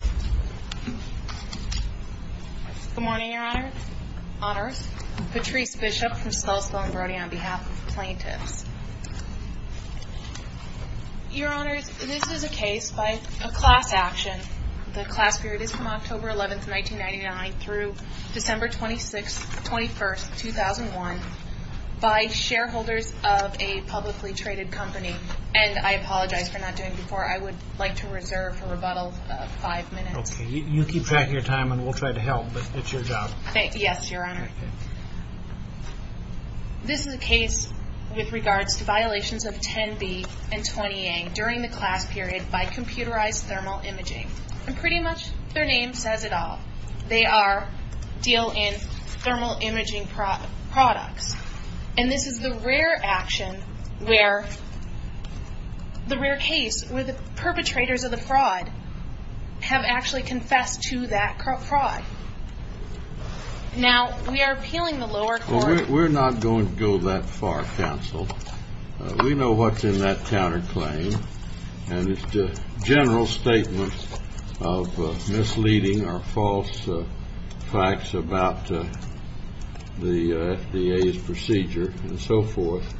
Good morning, Your Honors. Patrice Bishop from Skelosville and Brody on behalf of plaintiffs. Your Honors, this is a case by a class action. The class period is from October 11, 1999 through December 26, 21, 2001, by shareholders of a publicly traded company. And I apologize for not doing it before. I would like to reserve a rebuttal of five minutes. Okay. You keep track of your time and we'll try to help, but it's your job. Yes, Your Honor. This is a case with regards to violations of 10b and 20a during the class period by computerized thermal imaging. And pretty much their name says it all. They deal in thermal imaging products. And this is the rare case where the perpetrators of the fraud have actually confessed to that fraud. Now, we are appealing the lower court. We're not going to go that far, counsel. We know what's in that counterclaim. And it's a general statement of misleading or false facts about the FDA's procedure and so forth.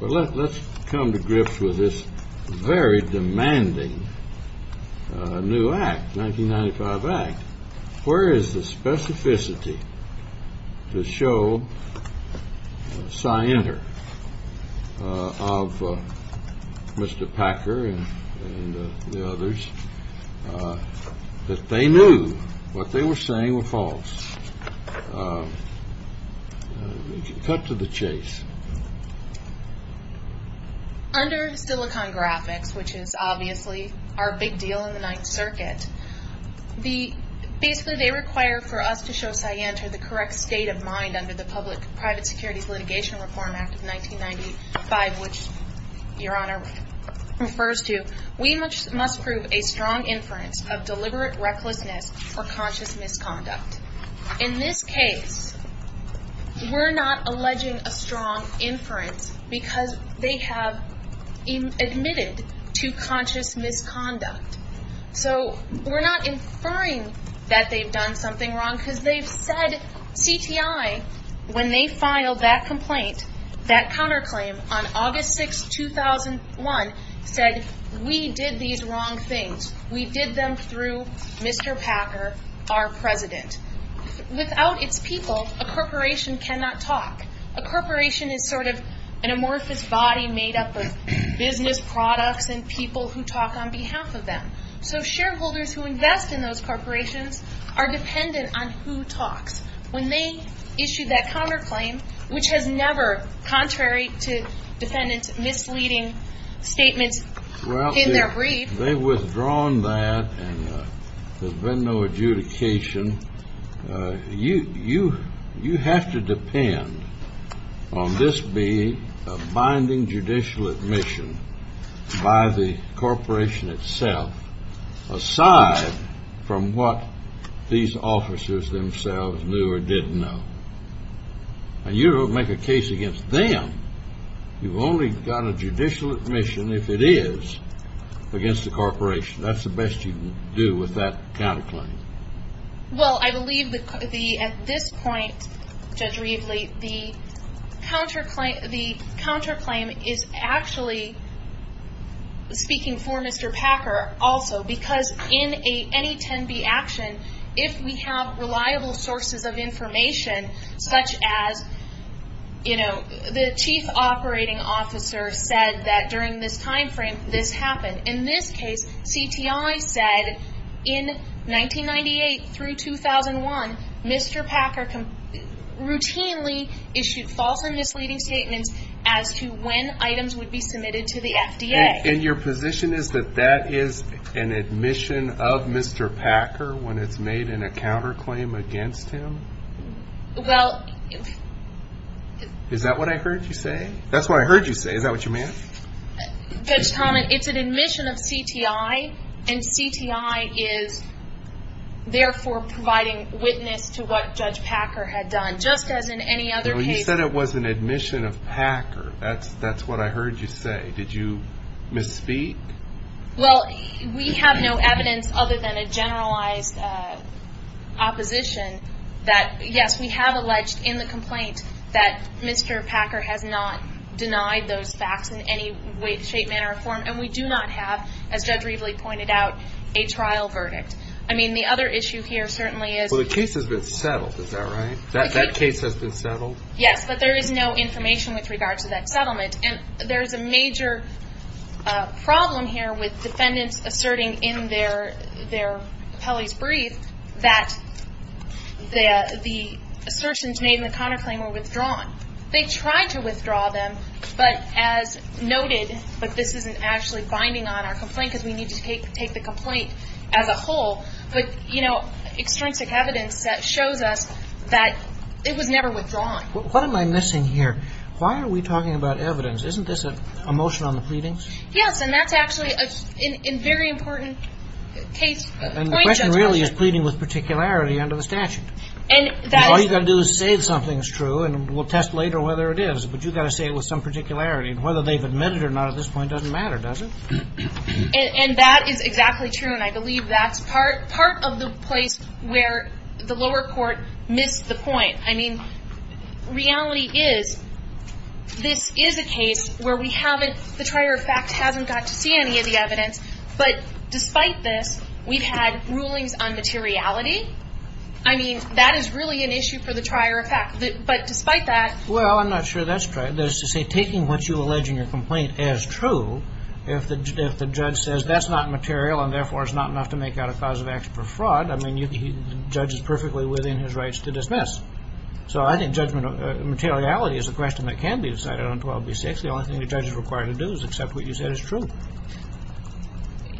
Well, let's come to grips with this very demanding new act, 1995 Act. Where is the specificity to show scienter of Mr. Packer and the others that they knew what they were saying were false? Cut to the chase. Under Silicon Graphics, which is obviously our big deal in the Ninth Circuit, basically they require for us to show scienter the correct state of mind under the Public Private Securities Litigation Reform Act of 1995, which Your Honor refers to, we must prove a strong inference of deliberate recklessness or conscious misconduct. In this case, we're not alleging a strong inference because they have admitted to conscious misconduct. So we're not inferring that they've done something wrong because they've said CTI, when they filed that complaint, that counterclaim on August 6, 2001, said we did these wrong things. We did them through Mr. Packer, our president. Without its people, a corporation cannot talk. A corporation is sort of an amorphous body made up of business products and people who talk on behalf of them. So shareholders who invest in those corporations are dependent on who talks. When they issue that counterclaim, which is never contrary to defendant's misleading statements in their briefs. They've withdrawn that and there's been no adjudication. You have to depend on this being a binding judicial admission by the corporation itself aside from what these officers themselves knew or did know. And you don't make a case against them. You've only got a judicial admission if it is against the corporation. That's the best you can do with that counterclaim. Well, I believe at this point, Judge Rievele, the counterclaim is actually speaking for Mr. Packer also. Because in any 10B action, if we have reliable sources of information such as, you know, the chief operating officer said that during this time frame this happened. In this case, CTI said in 1998 through 2001, Mr. Packer routinely issued false and misleading statements as to when items would be submitted to the FDA. And your position is that that is an admission of Mr. Packer when it's made in a counterclaim against him? Well. Is that what I heard you say? That's what I heard you say. Is that what you meant? Judge Tomlin, it's an admission of CTI, and CTI is therefore providing witness to what Judge Packer had done. Just as in any other case. You said it was an admission of Packer. That's what I heard you say. Did you misspeak? Well, we have no evidence other than a generalized opposition that, yes, we have alleged in the complaint that Mr. Packer has not denied those facts in any way, shape, manner, or form. And we do not have, as Judge Reveley pointed out, a trial verdict. I mean, the other issue here certainly is. Well, the case has been settled. Is that right? That case has been settled? Yes, but there is no information with regards to that settlement. And there is a major problem here with defendants asserting in their appellee's brief that the assertions made in the counterclaim were withdrawn. They tried to withdraw them, but as noted, but this isn't actually binding on our complaint because we need to take the complaint as a whole. But, you know, extrinsic evidence shows us that it was never withdrawn. What am I missing here? Why are we talking about evidence? Isn't this a motion on the pleadings? Yes, and that's actually a very important case. And the question really is pleading with particularity under the statute. All you've got to do is say something's true, and we'll test later whether it is. But you've got to say it with some particularity. And whether they've admitted it or not at this point doesn't matter, does it? And that is exactly true, and I believe that's part of the place where the lower court missed the point. I mean, reality is this is a case where we haven't, the trier of fact hasn't got to see any of the evidence, but despite this, we've had rulings on materiality. I mean, that is really an issue for the trier of fact. But despite that. Well, I'm not sure that's true. That is to say, taking what you allege in your complaint as true, if the judge says that's not material and therefore is not enough to make out a cause of action for fraud, I mean, the judge is perfectly within his rights to dismiss. So I think judgment of materiality is a question that can be decided on 12B6. The only thing the judge is required to do is accept what you said is true.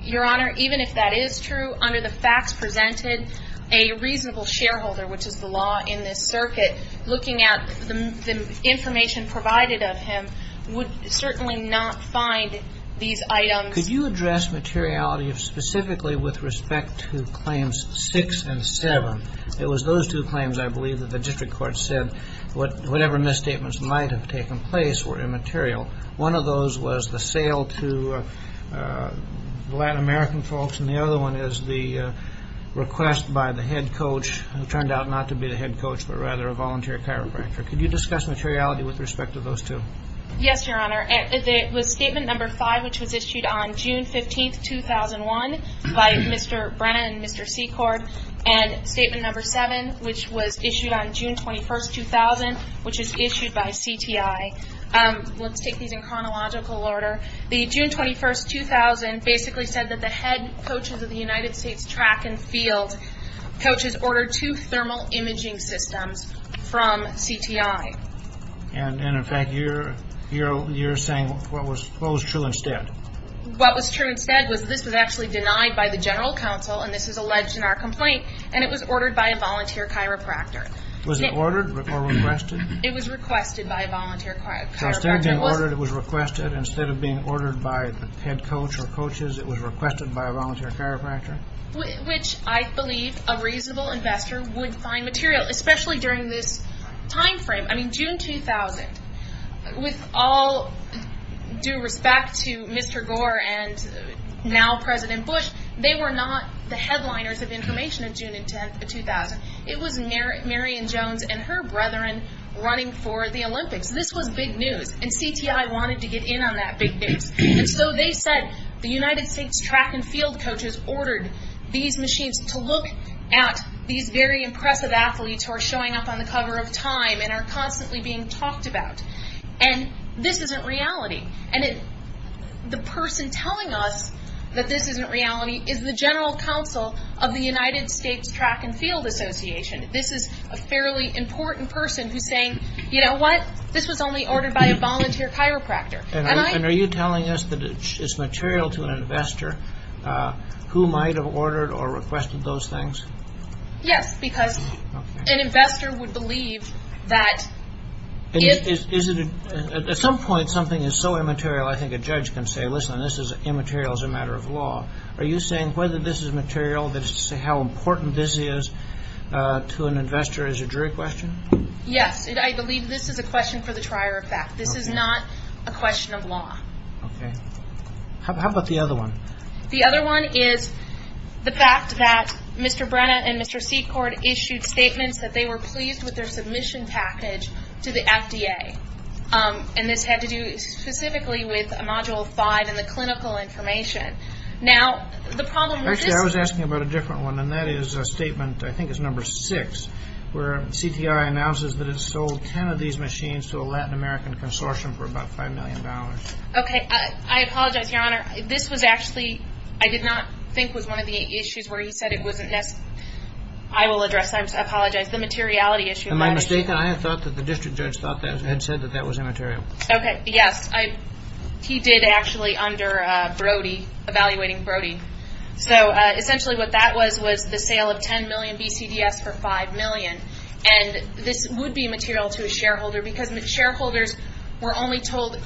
Your Honor, even if that is true, under the facts presented, a reasonable shareholder, which is the law in this circuit, looking at the information provided of him, would certainly not find these items. Could you address materiality specifically with respect to claims 6 and 7? It was those two claims, I believe, that the district court said whatever misstatements might have taken place were immaterial. One of those was the sale to Latin American folks, and the other one is the request by the head coach, who turned out not to be the head coach, but rather a volunteer chiropractor. Could you discuss materiality with respect to those two? Yes, Your Honor. It was Statement No. 5, which was issued on June 15, 2001, by Mr. Brennan and Mr. Secord, and Statement No. 7, which was issued on June 21, 2000, which is issued by CTI. Let's take these in chronological order. The June 21, 2000 basically said that the head coaches of the United States track and field coaches ordered two thermal imaging systems from CTI. And, in fact, you're saying what was true instead? What was true instead was this was actually denied by the general counsel, and this was alleged in our complaint, and it was ordered by a volunteer chiropractor. Was it ordered or requested? It was requested by a volunteer chiropractor. So instead of being ordered, it was requested? Instead of being ordered by the head coach or coaches, it was requested by a volunteer chiropractor? Which I believe a reasonable investor would find material, especially during this time frame. I mean, June 2000, with all due respect to Mr. Gore and now President Bush, they were not the headliners of information of June 10, 2000. It was Marion Jones and her brethren running for the Olympics. This was big news, and CTI wanted to get in on that big news. And so they said the United States track and field coaches ordered these machines to look at these very impressive athletes who are showing up on the cover of Time and are constantly being talked about. And this isn't reality. And the person telling us that this isn't reality is the general counsel of the United States Track and Field Association. This is a fairly important person who's saying, you know what, this was only ordered by a volunteer chiropractor. And are you telling us that it's material to an investor who might have ordered or requested those things? Yes, because an investor would believe that if... At some point, something is so immaterial, I think a judge can say, listen, this is immaterial as a matter of law. Are you saying whether this is material, how important this is to an investor, is a jury question? Yes, I believe this is a question for the trier of fact. This is not a question of law. Okay. How about the other one? The other one is the fact that Mr. Brenna and Mr. Secord issued statements that they were pleased with their submission package to the FDA. And this had to do specifically with Module 5 and the clinical information. Now, the problem with this... Actually, I was asking about a different one, and that is a statement, I think it's number 6, where CTRI announces that it sold 10 of these machines to a Latin American consortium for about $5 million. Okay. I apologize, Your Honor. This was actually, I did not think was one of the issues where he said it wasn't necessary. I will address that. I apologize. The materiality issue. Am I mistaken? I thought that the district judge had said that that was immaterial. Okay. Yes. He did actually under Brody, evaluating Brody. So essentially what that was, was the sale of 10 million BCDS for 5 million. And this would be material to a shareholder, because the shareholders were only told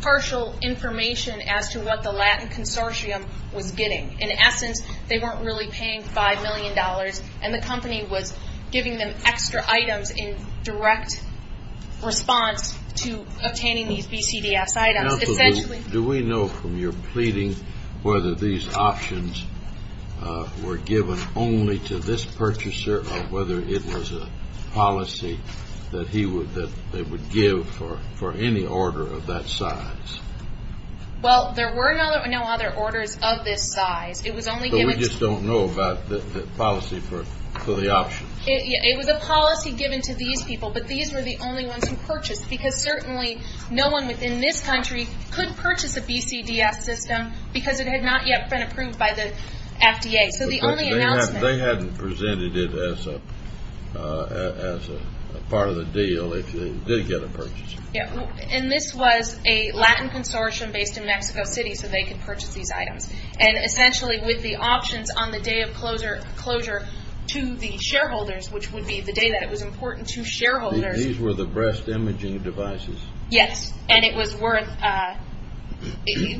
partial information as to what the Latin consortium was getting. In essence, they weren't really paying $5 million, and the company was giving them extra items in direct response to obtaining these BCDS items. Do we know from your pleading whether these options were given only to this purchaser, or whether it was a policy that they would give for any order of that size? Well, there were no other orders of this size. It was only given to... So we just don't know about the policy for the option? It was a policy given to these people, but these were the only ones who purchased, because certainly no one within this country could purchase a BCDS system, because it had not yet been approved by the FDA. So the only announcement... They hadn't presented it as a part of the deal if they did get a purchase. And this was a Latin consortium based in Mexico City, so they could purchase these items. And essentially with the options on the day of closure to the shareholders, which would be the day that it was important to shareholders... These were the breast imaging devices? Yes, and it was worth...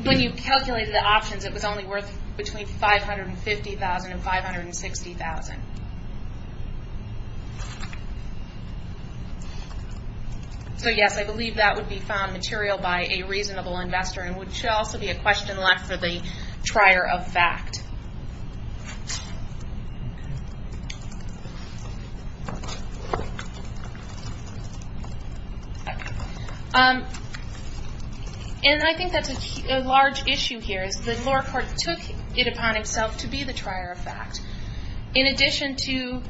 When you calculated the options, it was only worth between $550,000 and $560,000. So, yes, I believe that would be found material by a reasonable investor, and would also be a question left for the trier of fact. And I think that's a large issue here, is the lower court took it upon itself to be the trier of fact. In addition to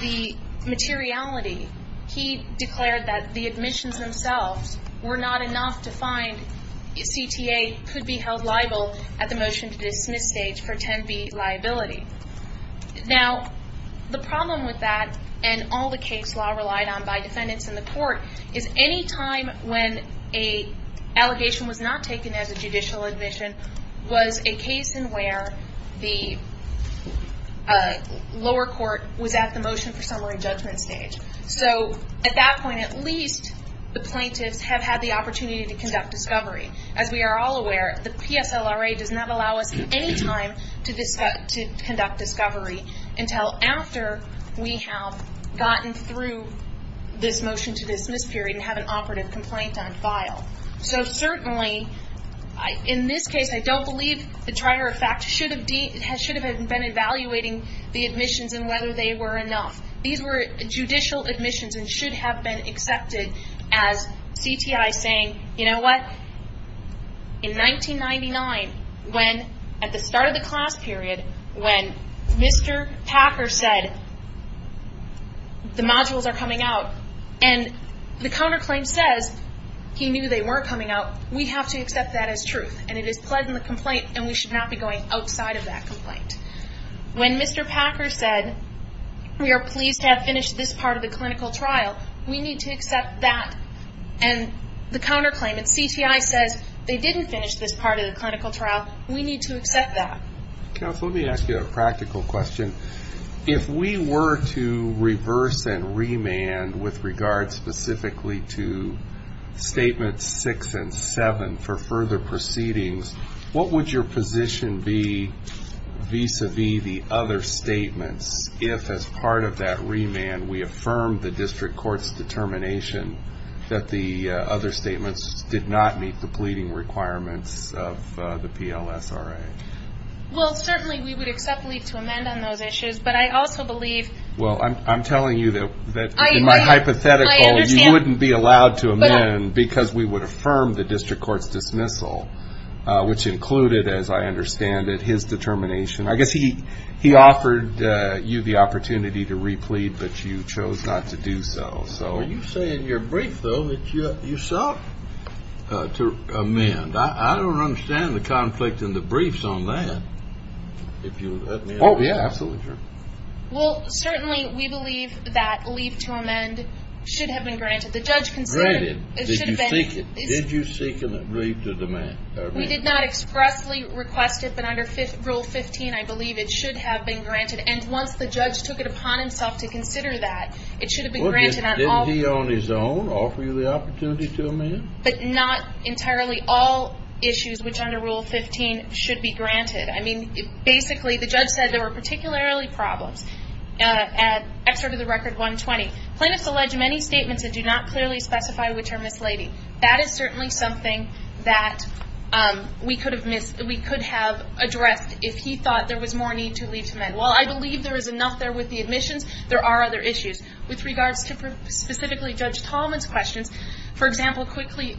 the materiality, he declared that the admissions themselves were not enough to find CTA could be held liable at the motion to dismiss stage for 10B liability. Now, the problem with that, and all the case law relied on by defendants in the court, is any time when an allegation was not taken as a judicial admission was a case in where the lower court was at the motion for summary judgment stage. So at that point, at least the plaintiffs have had the opportunity to conduct discovery. As we are all aware, the PSLRA does not allow us any time to conduct discovery until after we have gotten through this motion to dismiss period and have an operative complaint on file. So certainly, in this case, I don't believe the trier of fact should have been evaluating the admissions and whether they were enough. These were judicial admissions and should have been accepted as CTI saying, you know what, in 1999, at the start of the class period, when Mr. Packer said, the modules are coming out, and the counterclaim says he knew they weren't coming out. We have to accept that as truth, and it is pled in the complaint, and we should not be going outside of that complaint. When Mr. Packer said, we are pleased to have finished this part of the clinical trial, we need to accept that. And the counterclaim at CTI says they didn't finish this part of the clinical trial. We need to accept that. Counsel, let me ask you a practical question. If we were to reverse and remand with regard specifically to Statements 6 and 7 for further proceedings, what would your position be vis-à-vis the other statements if, as part of that remand, we affirmed the district court's determination that the other statements did not meet the pleading requirements of the PLSRA? Well, certainly we would accept leave to amend on those issues, but I also believe... Well, I'm telling you that, in my hypothetical, you wouldn't be allowed to amend because we would affirm the district court's dismissal, which included, as I understand it, his determination. I guess he offered you the opportunity to replead, but you chose not to do so. You say in your brief, though, that you sought to amend. I don't understand the conflict in the briefs on that, if you'll let me know. Oh, yeah, absolutely, sure. Well, certainly we believe that leave to amend should have been granted. The judge considered it. Granted. Did you seek it? Did you seek a leave to amend? We did not expressly request it, but under Rule 15, I believe it should have been granted. And once the judge took it upon himself to consider that, it should have been granted on all... Didn't he, on his own, offer you the opportunity to amend? But not entirely all issues which, under Rule 15, should be granted. I mean, basically, the judge said there were particularly problems. Excerpt of the Record 120. Plaintiffs allege many statements that do not clearly specify which are misleading. That is certainly something that we could have addressed if he thought there was more need to leave to amend. While I believe there is enough there with the admissions, there are other issues. With regards to specifically Judge Tallman's questions, for example, quickly,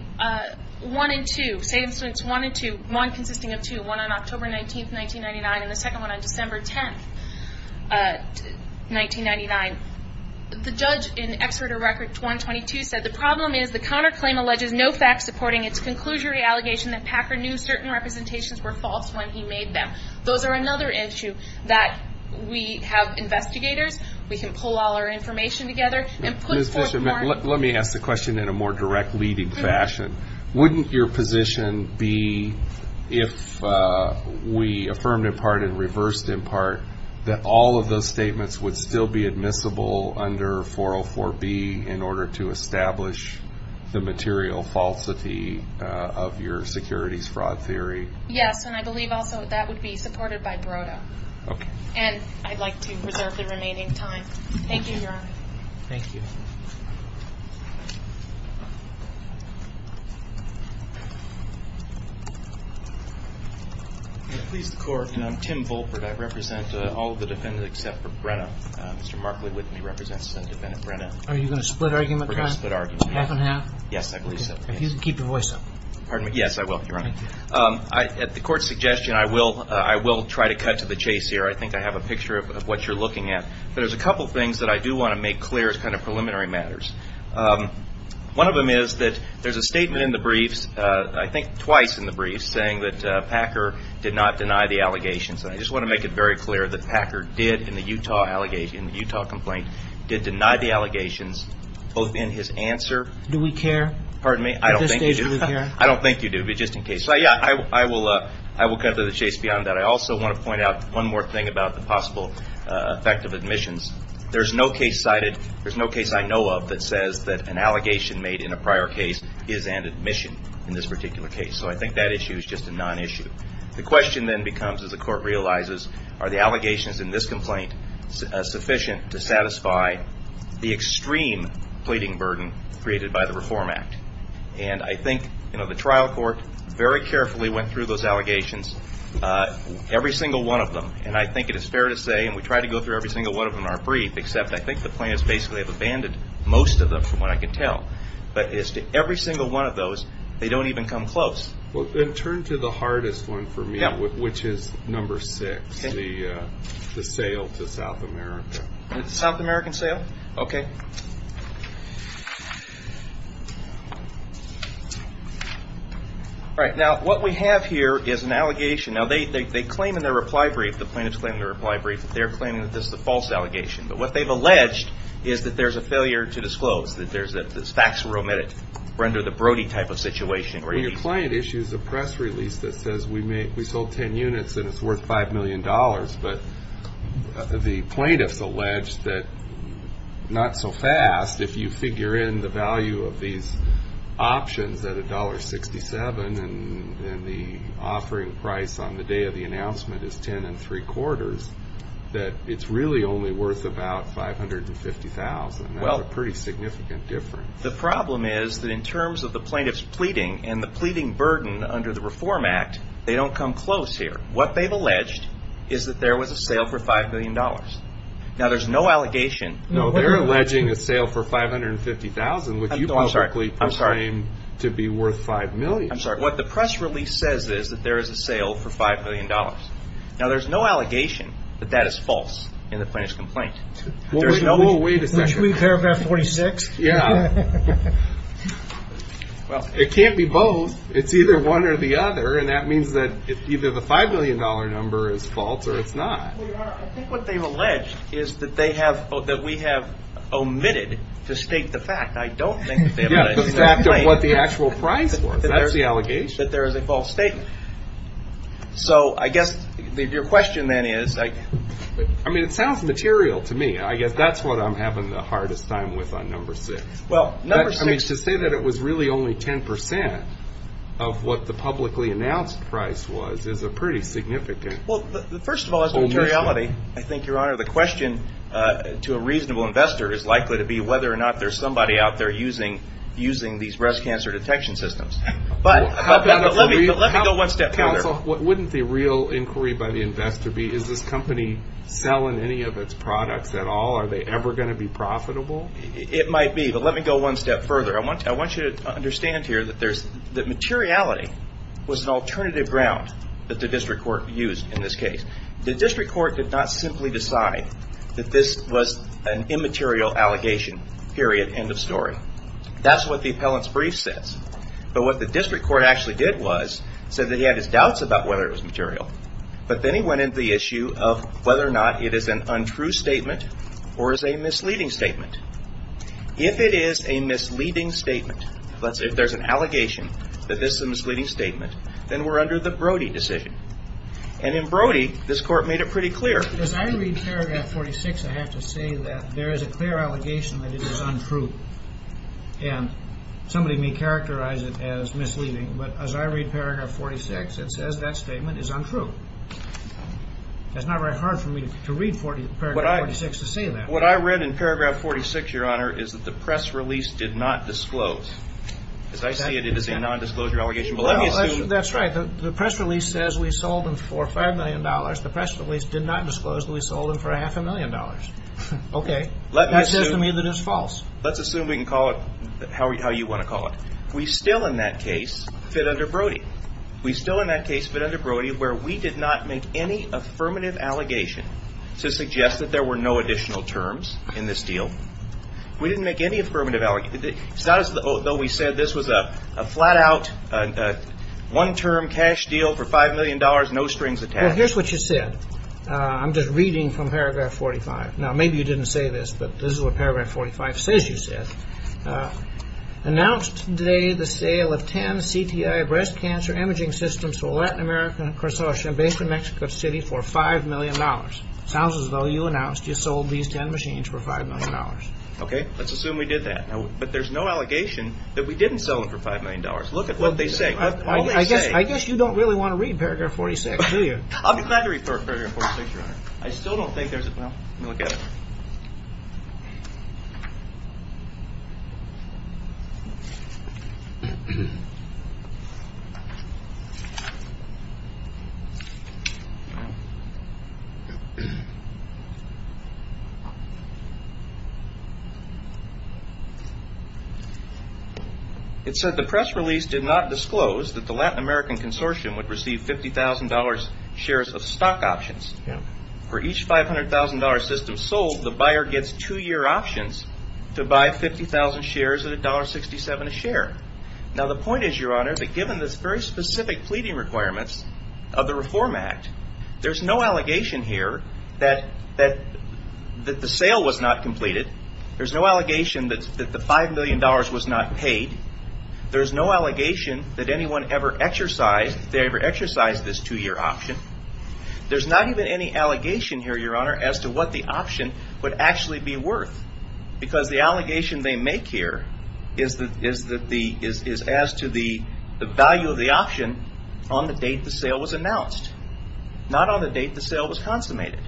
1 and 2, say instance 1 and 2, 1 consisting of 2, 1 on October 19, 1999, and the second one on December 10, 1999. The judge in Excerpt of Record 122 said, The problem is the counterclaim alleges no facts supporting its conclusory allegation that Packer knew certain representations were false when he made them. Those are another issue that we have investigators. We can pull all our information together and put forth more. Ms. Fisher, let me ask the question in a more direct, leading fashion. Wouldn't your position be if we affirmed in part and reversed in part that all of those statements would still be admissible under 404B in order to establish the material falsity of your securities fraud theory? Yes, and I believe also that would be supported by BRODO. Okay. And I'd like to reserve the remaining time. Thank you, Your Honor. Thank you. Please, the Court. I'm Tim Volpert. I represent all of the defendants except for Brenna. Mr. Markley with me represents defendant Brenna. Are you going to split argument? We're going to split argument. Half and half? You can keep your voice up. Pardon me? Yes, I will, Your Honor. At the Court's suggestion, I will try to cut to the chase here. I think I have a picture of what you're looking at. But there's a couple things that I do want to make clear as kind of preliminary matters. One of them is that there's a statement in the briefs, I think twice in the briefs, saying that Packer did not deny the allegations. And I just want to make it very clear that Packer did in the Utah complaint, did deny the allegations both in his answer. Do we care? Pardon me? At this stage, do we care? I don't think you do, but just in case. So, yeah, I will cut to the chase beyond that. I also want to point out one more thing about the possible effect of admissions. There's no case cited, there's no case I know of, that says that an allegation made in a prior case is an admission in this particular case. So I think that issue is just a non-issue. The question then becomes, as the Court realizes, are the allegations in this complaint sufficient to satisfy the extreme pleading burden created by the Reform Act? And I think the trial court very carefully went through those allegations, every single one of them. And I think it is fair to say, and we try to go through every single one of them in our brief, except I think the plaintiffs basically have abandoned most of them from what I can tell. But as to every single one of those, they don't even come close. Well, then turn to the hardest one for me, which is number six, the sale to South America. The South American sale? Okay. All right. Now, what we have here is an allegation. Now, they claim in their reply brief, the plaintiffs claim in their reply brief, that they're claiming that this is a false allegation. But what they've alleged is that there's a failure to disclose, that facts were omitted. We're under the Brody type of situation. Well, your client issues a press release that says we sold 10 units and it's worth $5 million. But the plaintiffs allege that not so fast, if you figure in the value of these options at $1.67 and the offering price on the day of the announcement is $10.75, that it's really only worth about $550,000. That's a pretty significant difference. The problem is that in terms of the plaintiffs pleading and the pleading burden under the Reform Act, they don't come close here. What they've alleged is that there was a sale for $5 million. Now, there's no allegation. No, they're alleging a sale for $550,000, which you publicly proclaim to be worth $5 million. I'm sorry. What the press release says is that there is a sale for $5 million. Now, there's no allegation that that is false in the plaintiff's complaint. Whoa, wait a second. Aren't you in paragraph 46? Yeah. Well, it can't be both. It's either one or the other, and that means that either the $5 million number is false or it's not. Wait a minute. I think what they've alleged is that we have omitted to state the fact. I don't think that they have omitted the fact. Yeah, the fact of what the actual price was. That's the allegation. That there is a false statement. So I guess your question then is. I mean, it sounds material to me. I guess that's what I'm having the hardest time with on number six. Well, number six. I mean, to say that it was really only 10% of what the publicly announced price was is a pretty significant omission. Well, first of all, as to materiality, I think, Your Honor, the question to a reasonable investor is likely to be whether or not there's somebody out there using these breast cancer detection systems. But let me go one step further. Counsel, wouldn't the real inquiry by the investor be, is this company selling any of its products at all? Are they ever going to be profitable? It might be, but let me go one step further. I want you to understand here that materiality was an alternative ground that the district court used in this case. The district court did not simply decide that this was an immaterial allegation, period, end of story. That's what the appellant's brief says. But what the district court actually did was said that he had his doubts about whether it was material. But then he went into the issue of whether or not it is an untrue statement or is a misleading statement. If it is a misleading statement, let's say if there's an allegation that this is a misleading statement, then we're under the Brody decision. And in Brody, this court made it pretty clear. As I read paragraph 46, I have to say that there is a clear allegation that it is untrue. And somebody may characterize it as misleading. But as I read paragraph 46, it says that statement is untrue. It's not very hard for me to read paragraph 46 to say that. What I read in paragraph 46, Your Honor, is that the press release did not disclose. As I see it, it is a nondisclosure allegation. But let me assume. That's right. The press release says we sold them for $5 million. The press release did not disclose that we sold them for a half a million dollars. Okay. Let me assume. Let me assume that it is false. Let's assume we can call it how you want to call it. We still, in that case, fit under Brody. We still, in that case, fit under Brody where we did not make any affirmative allegation to suggest that there were no additional terms in this deal. We didn't make any affirmative allegation. It's not as though we said this was a flat-out one-term cash deal for $5 million, no strings attached. Well, here's what you said. I'm just reading from paragraph 45. Now, maybe you didn't say this, but this is what paragraph 45 says you said. Announced today the sale of 10 CTI breast cancer imaging systems to a Latin American consortium based in Mexico City for $5 million. Sounds as though you announced you sold these 10 machines for $5 million. Okay. Let's assume we did that. But there's no allegation that we didn't sell them for $5 million. Look at what they say. I guess you don't really want to read paragraph 46, do you? I'm glad to refer to paragraph 46, Your Honor. I still don't think there's a – well, let me look at it. It said the press release did not disclose that the Latin American consortium would receive $50,000 shares of stock options. For each $500,000 system sold, the buyer gets two-year options to buy 50,000 shares at $1.67 a share. Now, the point is, Your Honor, that given the very specific pleading requirements of the Reform Act, there's no allegation here that the sale was not completed. There's no allegation that the $5 million was not paid. There's no allegation that anyone ever exercised – that they ever exercised this two-year option. There's not even any allegation here, Your Honor, as to what the option would actually be worth. Because the allegation they make here is as to the value of the option on the date the sale was announced, not on the date the sale was consummated.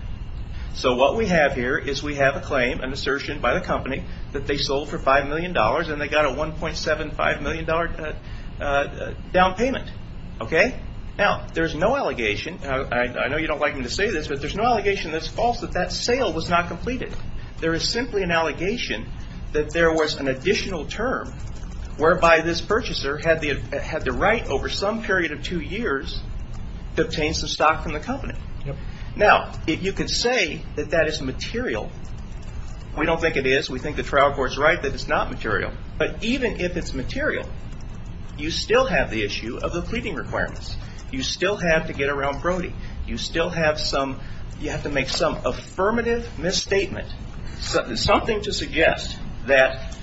So what we have here is we have a claim, an assertion by the company, that they sold for $5 million and they got a $1.75 million down payment. Okay? Now, there's no allegation – and I know you don't like me to say this – but there's no allegation that's false that that sale was not completed. There is simply an allegation that there was an additional term whereby this purchaser had the right over some period of two years to obtain some stock from the company. Now, you could say that that is material. We don't think it is. We think the trial court's right that it's not material. But even if it's material, you still have the issue of the pleading requirements. You still have to get around Brody. You still have some – you have to make some affirmative misstatement. Something to suggest that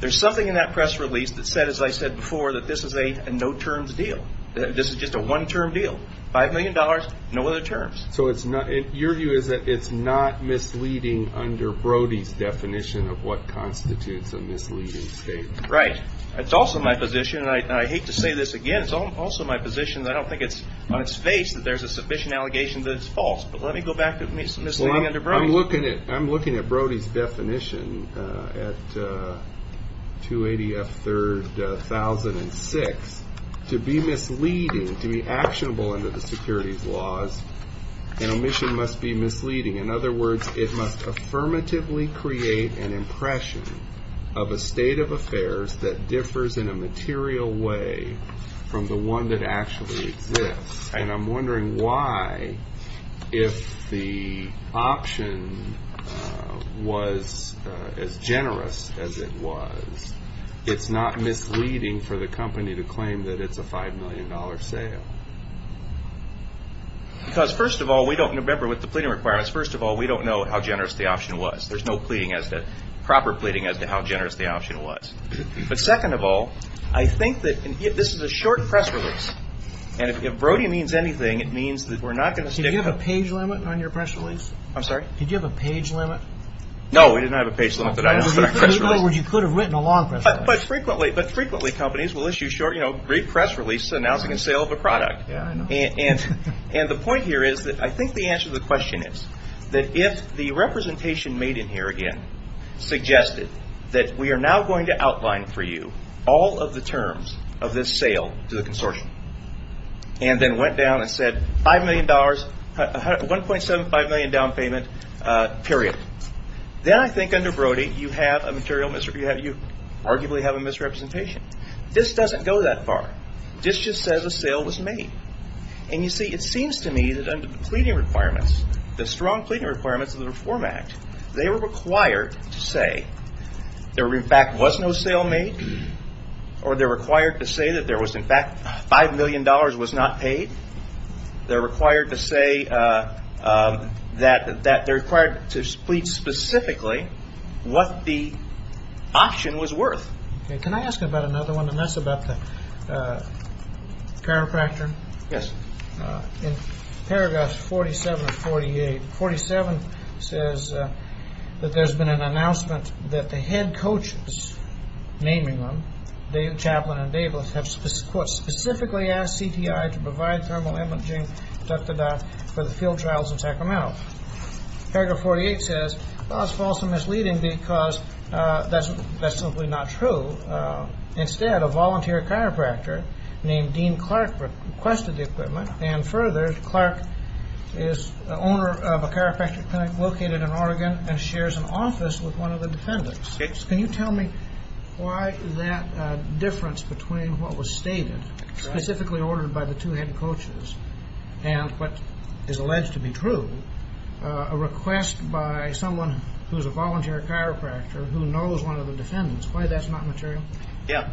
there's something in that press release that said, as I said before, that this is a no-terms deal. This is just a one-term deal. $5 million, no other terms. So it's not – your view is that it's not misleading under Brody's definition of what constitutes a misleading statement. Right. It's also my position – and I hate to say this again – it's also my position that I don't think it's on its face that there's a sufficient allegation that it's false. But let me go back to misleading under Brody. I'm looking at Brody's definition at 280F3006. To be misleading, to be actionable under the securities laws, an omission must be misleading. In other words, it must affirmatively create an impression of a state of affairs that differs in a material way from the one that actually exists. And I'm wondering why, if the option was as generous as it was, it's not misleading for the company to claim that it's a $5 million sale. Because, first of all, we don't – remember, with the pleading requirements, first of all, we don't know how generous the option was. There's no pleading as to – proper pleading as to how generous the option was. But second of all, I think that – and this is a short press release. And if Brody means anything, it means that we're not going to stick – Did you have a page limit on your press release? I'm sorry? Did you have a page limit? No, we did not have a page limit that I listed on our press release. In other words, you could have written a long press release. But frequently – but frequently companies will issue short, you know, brief press releases announcing a sale of a product. Yeah, I know. And the point here is that I think the answer to the question is that if the representation made in here, again, suggested that we are now going to outline for you all of the terms of this sale to the consortium, and then went down and said $5 million – $1.75 million down payment, period. Then I think under Brody you have a material – you arguably have a misrepresentation. This doesn't go that far. This just says a sale was made. And you see, it seems to me that under the pleading requirements, the strong pleading requirements of the Reform Act, they were required to say there in fact was no sale made or they're required to say that there was in fact $5 million was not paid. They're required to say that – they're required to plead specifically what the auction was worth. Okay. Can I ask about another one? And that's about the chiropractor. Yes. In paragraph 47 of 48, 47 says that there's been an announcement that the head coaches, naming them, David Chaplin and Davis, have specifically asked CTI to provide thermal imaging for the field trials in Sacramento. Paragraph 48 says that's false and misleading because that's simply not true. Instead, a volunteer chiropractor named Dean Clark requested the equipment, and further, Clark is the owner of a chiropractic clinic located in Oregon and shares an office with one of the defendants. Can you tell me why that difference between what was stated, specifically ordered by the two head coaches, and what is alleged to be true, a request by someone who's a volunteer chiropractor who knows one of the defendants, why that's not material? Yeah.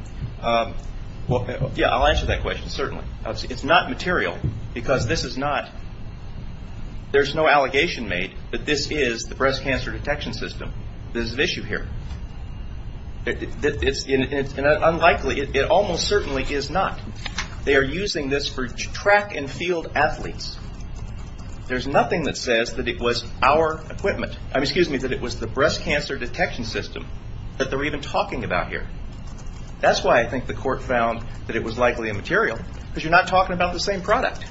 Well, yeah, I'll answer that question, certainly. It's not material because this is not – there's no allegation made that this is the breast cancer detection system. There's an issue here. It's unlikely – it almost certainly is not. They are using this for track and field athletes. There's nothing that says that it was our equipment – I mean, excuse me, that it was the breast cancer detection system that they're even talking about here. That's why I think the court found that it was likely immaterial because you're not talking about the same product.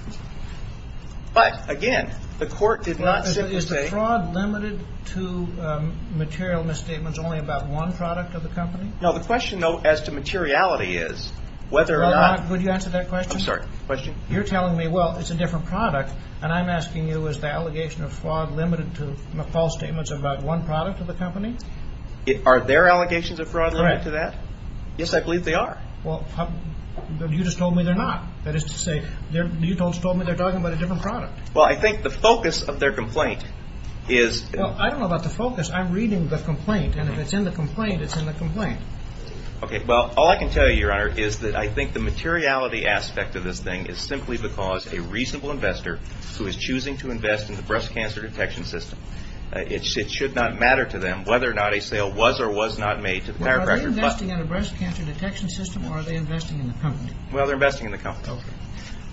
But, again, the court did not simply say – Is the fraud limited to material misstatements only about one product of the company? No, the question, though, as to materiality is whether or not – Could you answer that question? I'm sorry, question? You're telling me, well, it's a different product, and I'm asking you is the allegation of fraud limited to false statements about one product of the company? Are there allegations of fraud limited to that? Correct. Yes, I believe they are. Well, you just told me they're not. That is to say, you just told me they're talking about a different product. Well, I think the focus of their complaint is – Well, I don't know about the focus. I'm reading the complaint, and if it's in the complaint, it's in the complaint. Okay. Well, all I can tell you, Your Honor, is that I think the materiality aspect of this thing is simply because a reasonable investor who is choosing to invest in the breast cancer detection system, it should not matter to them whether or not a sale was or was not made to the chiropractor. Are they investing in a breast cancer detection system, or are they investing in the company? Well, they're investing in the company. Okay.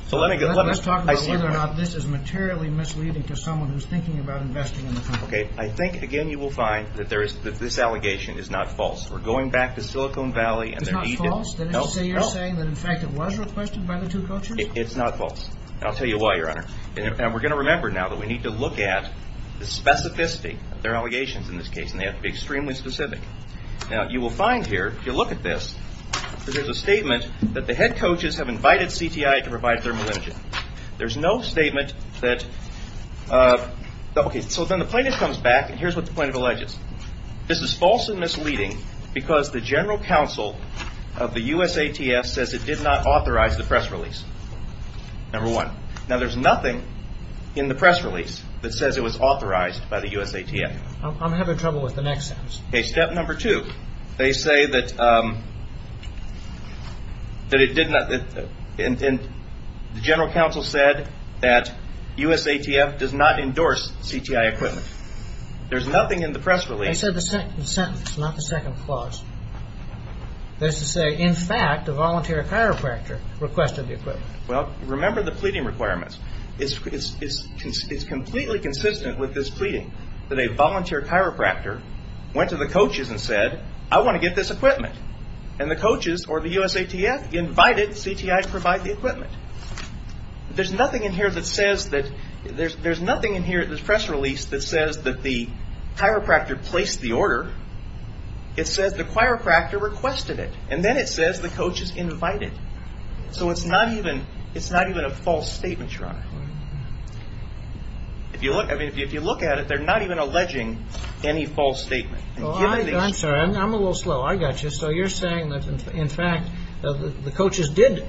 So let me – Let's talk about whether or not this is materially misleading to someone who's thinking about investing in the company. Okay. I think, again, you will find that this allegation is not false. We're going back to Silicon Valley, and they're – It's not false? No, no. So you're saying that, in fact, it was requested by the two coaches? It's not false. And I'll tell you why, Your Honor. And we're going to remember now that we need to look at the specificity of their allegations in this case, and they have to be extremely specific. Now, you will find here, if you look at this, that there's a statement that the head coaches have invited CTI to provide thermal imaging. There's no statement that – Okay, so then the plaintiff comes back, and here's what the plaintiff alleges. This is false and misleading because the general counsel of the USATF says it did not authorize the press release, number one. Now, there's nothing in the press release that says it was authorized by the USATF. I'm having trouble with the next sentence. Okay, step number two. They say that it did not – and the general counsel said that USATF does not endorse CTI equipment. There's nothing in the press release – They said the second sentence, not the second clause. They say, in fact, a volunteer chiropractor requested the equipment. Well, remember the pleading requirements. It's completely consistent with this pleading that a volunteer chiropractor went to the coaches and said, I want to get this equipment. And the coaches or the USATF invited CTI to provide the equipment. There's nothing in here that says that – there's nothing in here in this press release that says that the chiropractor placed the order. It says the chiropractor requested it, and then it says the coaches invited. So it's not even a false statement, Your Honor. I mean, if you look at it, they're not even alleging any false statement. Well, I'm sorry. I'm a little slow. I got you. So you're saying that, in fact, the coaches did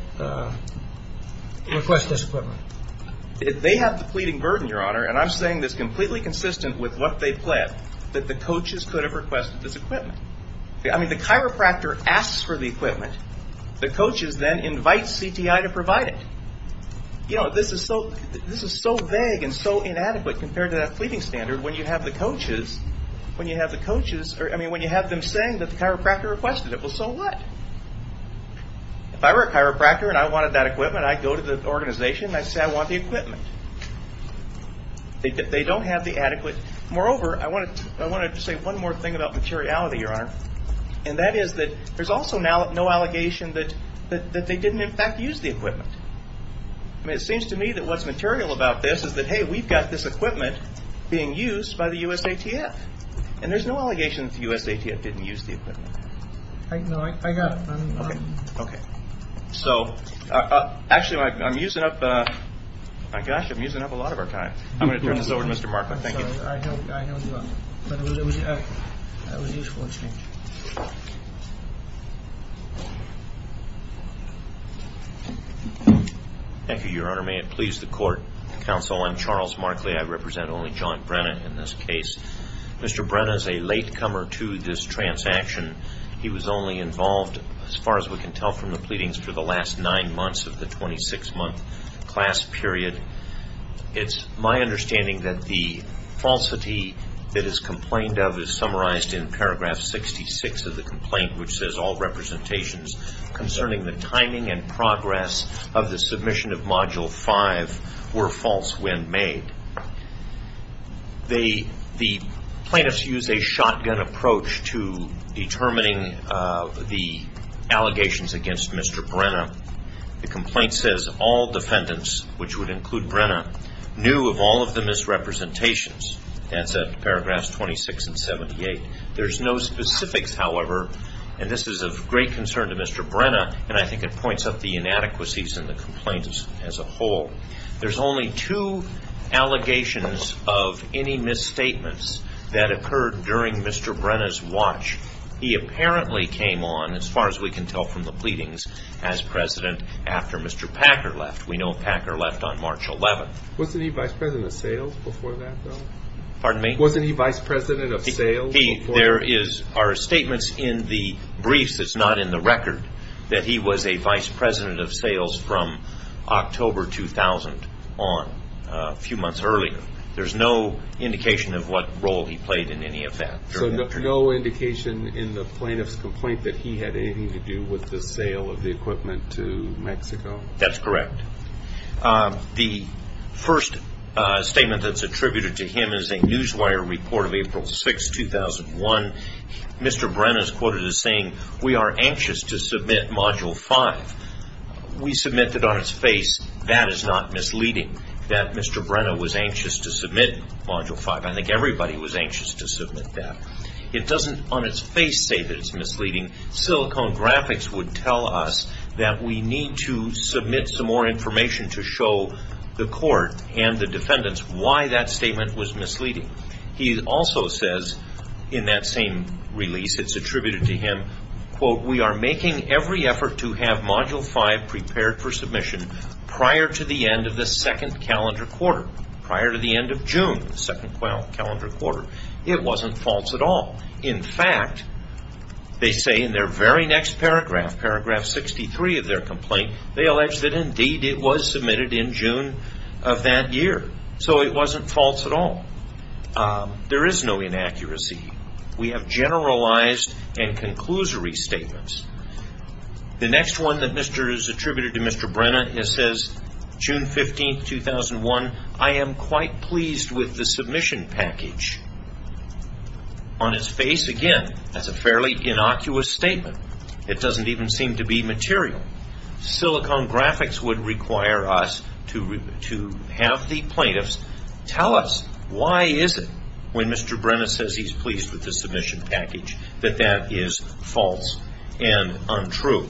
request this equipment. They have the pleading burden, Your Honor, and I'm saying this completely consistent with what they pled that the coaches could have requested this equipment. I mean, the chiropractor asks for the equipment. The coaches then invite CTI to provide it. You know, this is so vague and so inadequate compared to that pleading standard when you have the coaches – I mean, when you have them saying that the chiropractor requested it. Well, so what? If I were a chiropractor and I wanted that equipment, I'd go to the organization and I'd say I want the equipment. They don't have the adequate – moreover, I wanted to say one more thing about materiality, Your Honor, and that is that there's also no allegation that they didn't, in fact, use the equipment. I mean, it seems to me that what's material about this is that, hey, we've got this equipment being used by the USATF, and there's no allegation that the USATF didn't use the equipment. No, I got it. Okay. Okay. So actually, I'm using up – my gosh, I'm using up a lot of our time. I'm going to turn this over to Mr. Markler. Thank you. I know you are, but that was a useful exchange. Thank you, Your Honor. May it please the Court, Counsel, I'm Charles Markley. I represent only John Brenna in this case. Mr. Brenna is a latecomer to this transaction. He was only involved, as far as we can tell from the pleadings, for the last nine months of the 26-month class period. It's my understanding that the falsity that is complained of is summarized in paragraph 66 of the complaint, which says, All representations concerning the timing and progress of the submission of Module 5 were false when made. The plaintiffs used a shotgun approach to determining the allegations against Mr. Brenna. The complaint says, All defendants, which would include Brenna, knew of all of the misrepresentations. That's at paragraphs 26 and 78. There's no specifics, however, and this is of great concern to Mr. Brenna, and I think it points up the inadequacies in the complaint as a whole. There's only two allegations of any misstatements that occurred during Mr. Brenna's watch. He apparently came on, as far as we can tell from the pleadings, as president after Mr. Packer left. We know Packer left on March 11th. Wasn't he vice president of sales before that, though? Pardon me? Wasn't he vice president of sales before that? There are statements in the briefs that's not in the record that he was a vice president of sales from October 2000 on, a few months earlier. So no indication in the plaintiff's complaint that he had anything to do with the sale of the equipment to Mexico? That's correct. The first statement that's attributed to him is a Newswire report of April 6th, 2001. Mr. Brenna is quoted as saying, We are anxious to submit Module 5. We submit it on its face. That is not misleading, that Mr. Brenna was anxious to submit Module 5. I think everybody was anxious to submit that. It doesn't, on its face, say that it's misleading. Silicon Graphics would tell us that we need to submit some more information to show the court and the defendants why that statement was misleading. He also says, in that same release that's attributed to him, We are making every effort to have Module 5 prepared for submission prior to the end of the second calendar quarter. Prior to the end of June, the second calendar quarter. It wasn't false at all. In fact, they say in their very next paragraph, paragraph 63 of their complaint, they allege that indeed it was submitted in June of that year. So it wasn't false at all. There is no inaccuracy. We have generalized and conclusory statements. The next one that is attributed to Mr. Brenna says, June 15, 2001, I am quite pleased with the submission package. On its face, again, that's a fairly innocuous statement. It doesn't even seem to be material. Silicon Graphics would require us to have the plaintiffs tell us why is it when Mr. Brenna says he's pleased with the submission package that that is false and untrue.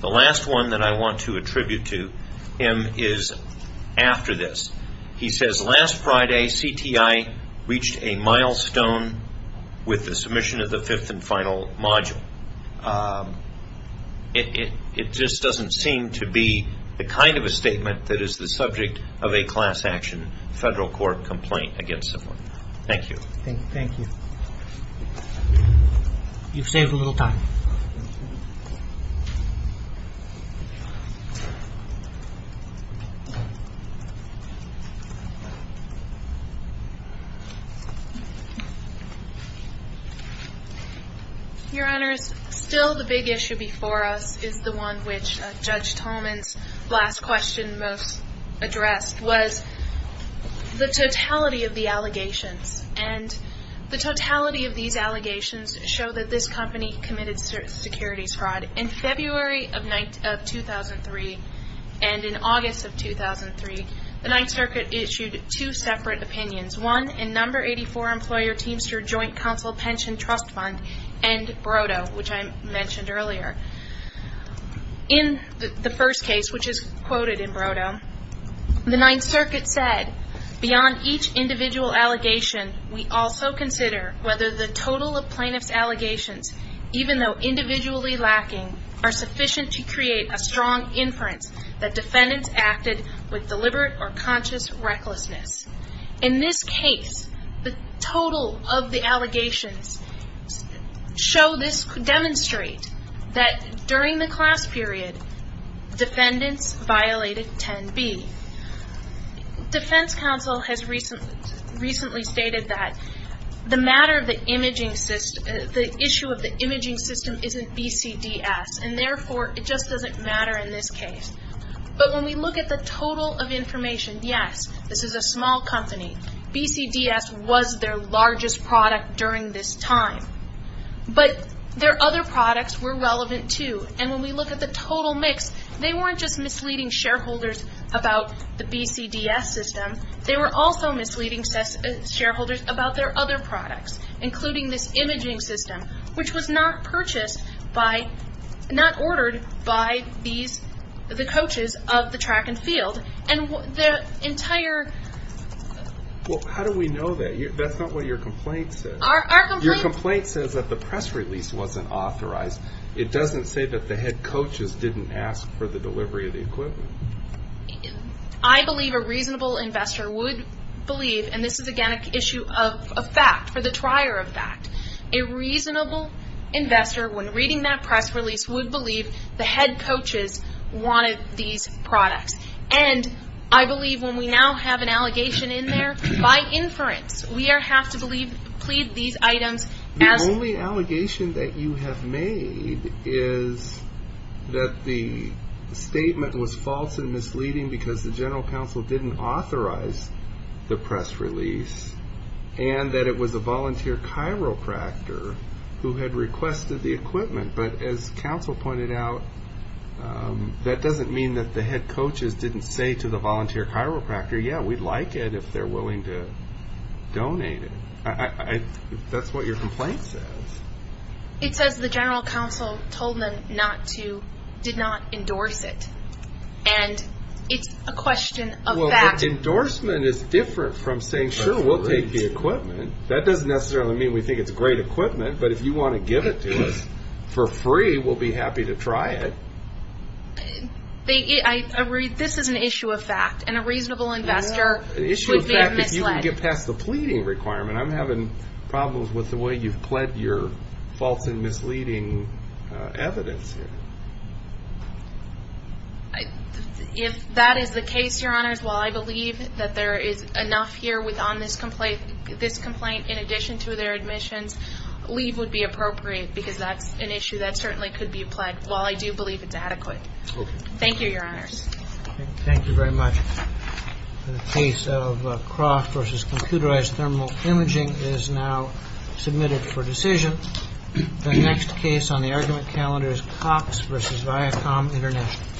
The last one that I want to attribute to him is after this. He says, last Friday, CTI reached a milestone with the submission of the fifth and final module. It just doesn't seem to be the kind of a statement that is the subject of a class action federal court complaint against someone. Thank you. Thank you. You've saved a little time. Your Honors, still the big issue before us is the one which Judge Tolman's last question most addressed, was the totality of the allegations. The totality of these allegations show that this company committed securities fraud. In February of 2003 and in August of 2003, the Ninth Circuit issued two separate opinions, one in No. 84 Employer Teamster Joint Council Pension Trust Fund and BRODO, which I mentioned earlier. In the first case, which is quoted in BRODO, the Ninth Circuit said, beyond each individual allegation, we also consider whether the total of plaintiff's allegations, even though individually lacking, are sufficient to create a strong inference that defendants acted with deliberate or conscious recklessness. In this case, the total of the allegations show this, demonstrate that during the class period, defendants violated 10B. Defense counsel has recently stated that the issue of the imaging system isn't BCDS, and therefore it just doesn't matter in this case. But when we look at the total of information, yes, this is a small company. BCDS was their largest product during this time. But their other products were relevant, too. And when we look at the total mix, they weren't just misleading shareholders about the BCDS system. They were also misleading shareholders about their other products, including this imaging system, which was not purchased by, not ordered by these, the coaches of the track and field. And the entire... Well, how do we know that? That's not what your complaint says. Your complaint says that the press release wasn't authorized. It doesn't say that the head coaches didn't ask for the delivery of the equipment. I believe a reasonable investor would believe, and this is, again, an issue of fact, for the trier of fact. A reasonable investor, when reading that press release, would believe the head coaches wanted these products. And I believe when we now have an allegation in there, by inference, we have to plead these items as... The only allegation that you have made is that the statement was false and misleading because the general counsel didn't authorize the press release, and that it was a volunteer chiropractor who had requested the equipment. But as counsel pointed out, that doesn't mean that the head coaches didn't say to the volunteer chiropractor, yeah, we'd like it if they're willing to donate it. That's what your complaint says. It says the general counsel told them not to, did not endorse it. And it's a question of fact. Well, endorsement is different from saying, sure, we'll take the equipment. That doesn't necessarily mean we think it's great equipment, but if you want to give it to us for free, we'll be happy to try it. This is an issue of fact, and a reasonable investor would be misled. An issue of fact, if you can get past the pleading requirement, I'm having problems with the way you've pled your false and misleading evidence here. If that is the case, Your Honors, while I believe that there is enough here on this complaint in addition to their admissions, leave would be appropriate because that's an issue that certainly could be applied, while I do believe it's adequate. Thank you, Your Honors. Thank you very much. The case of Croft v. Computerized Thermal Imaging is now submitted for decision. The next case on the argument calendar is Cox v. Viacom International. Thank you.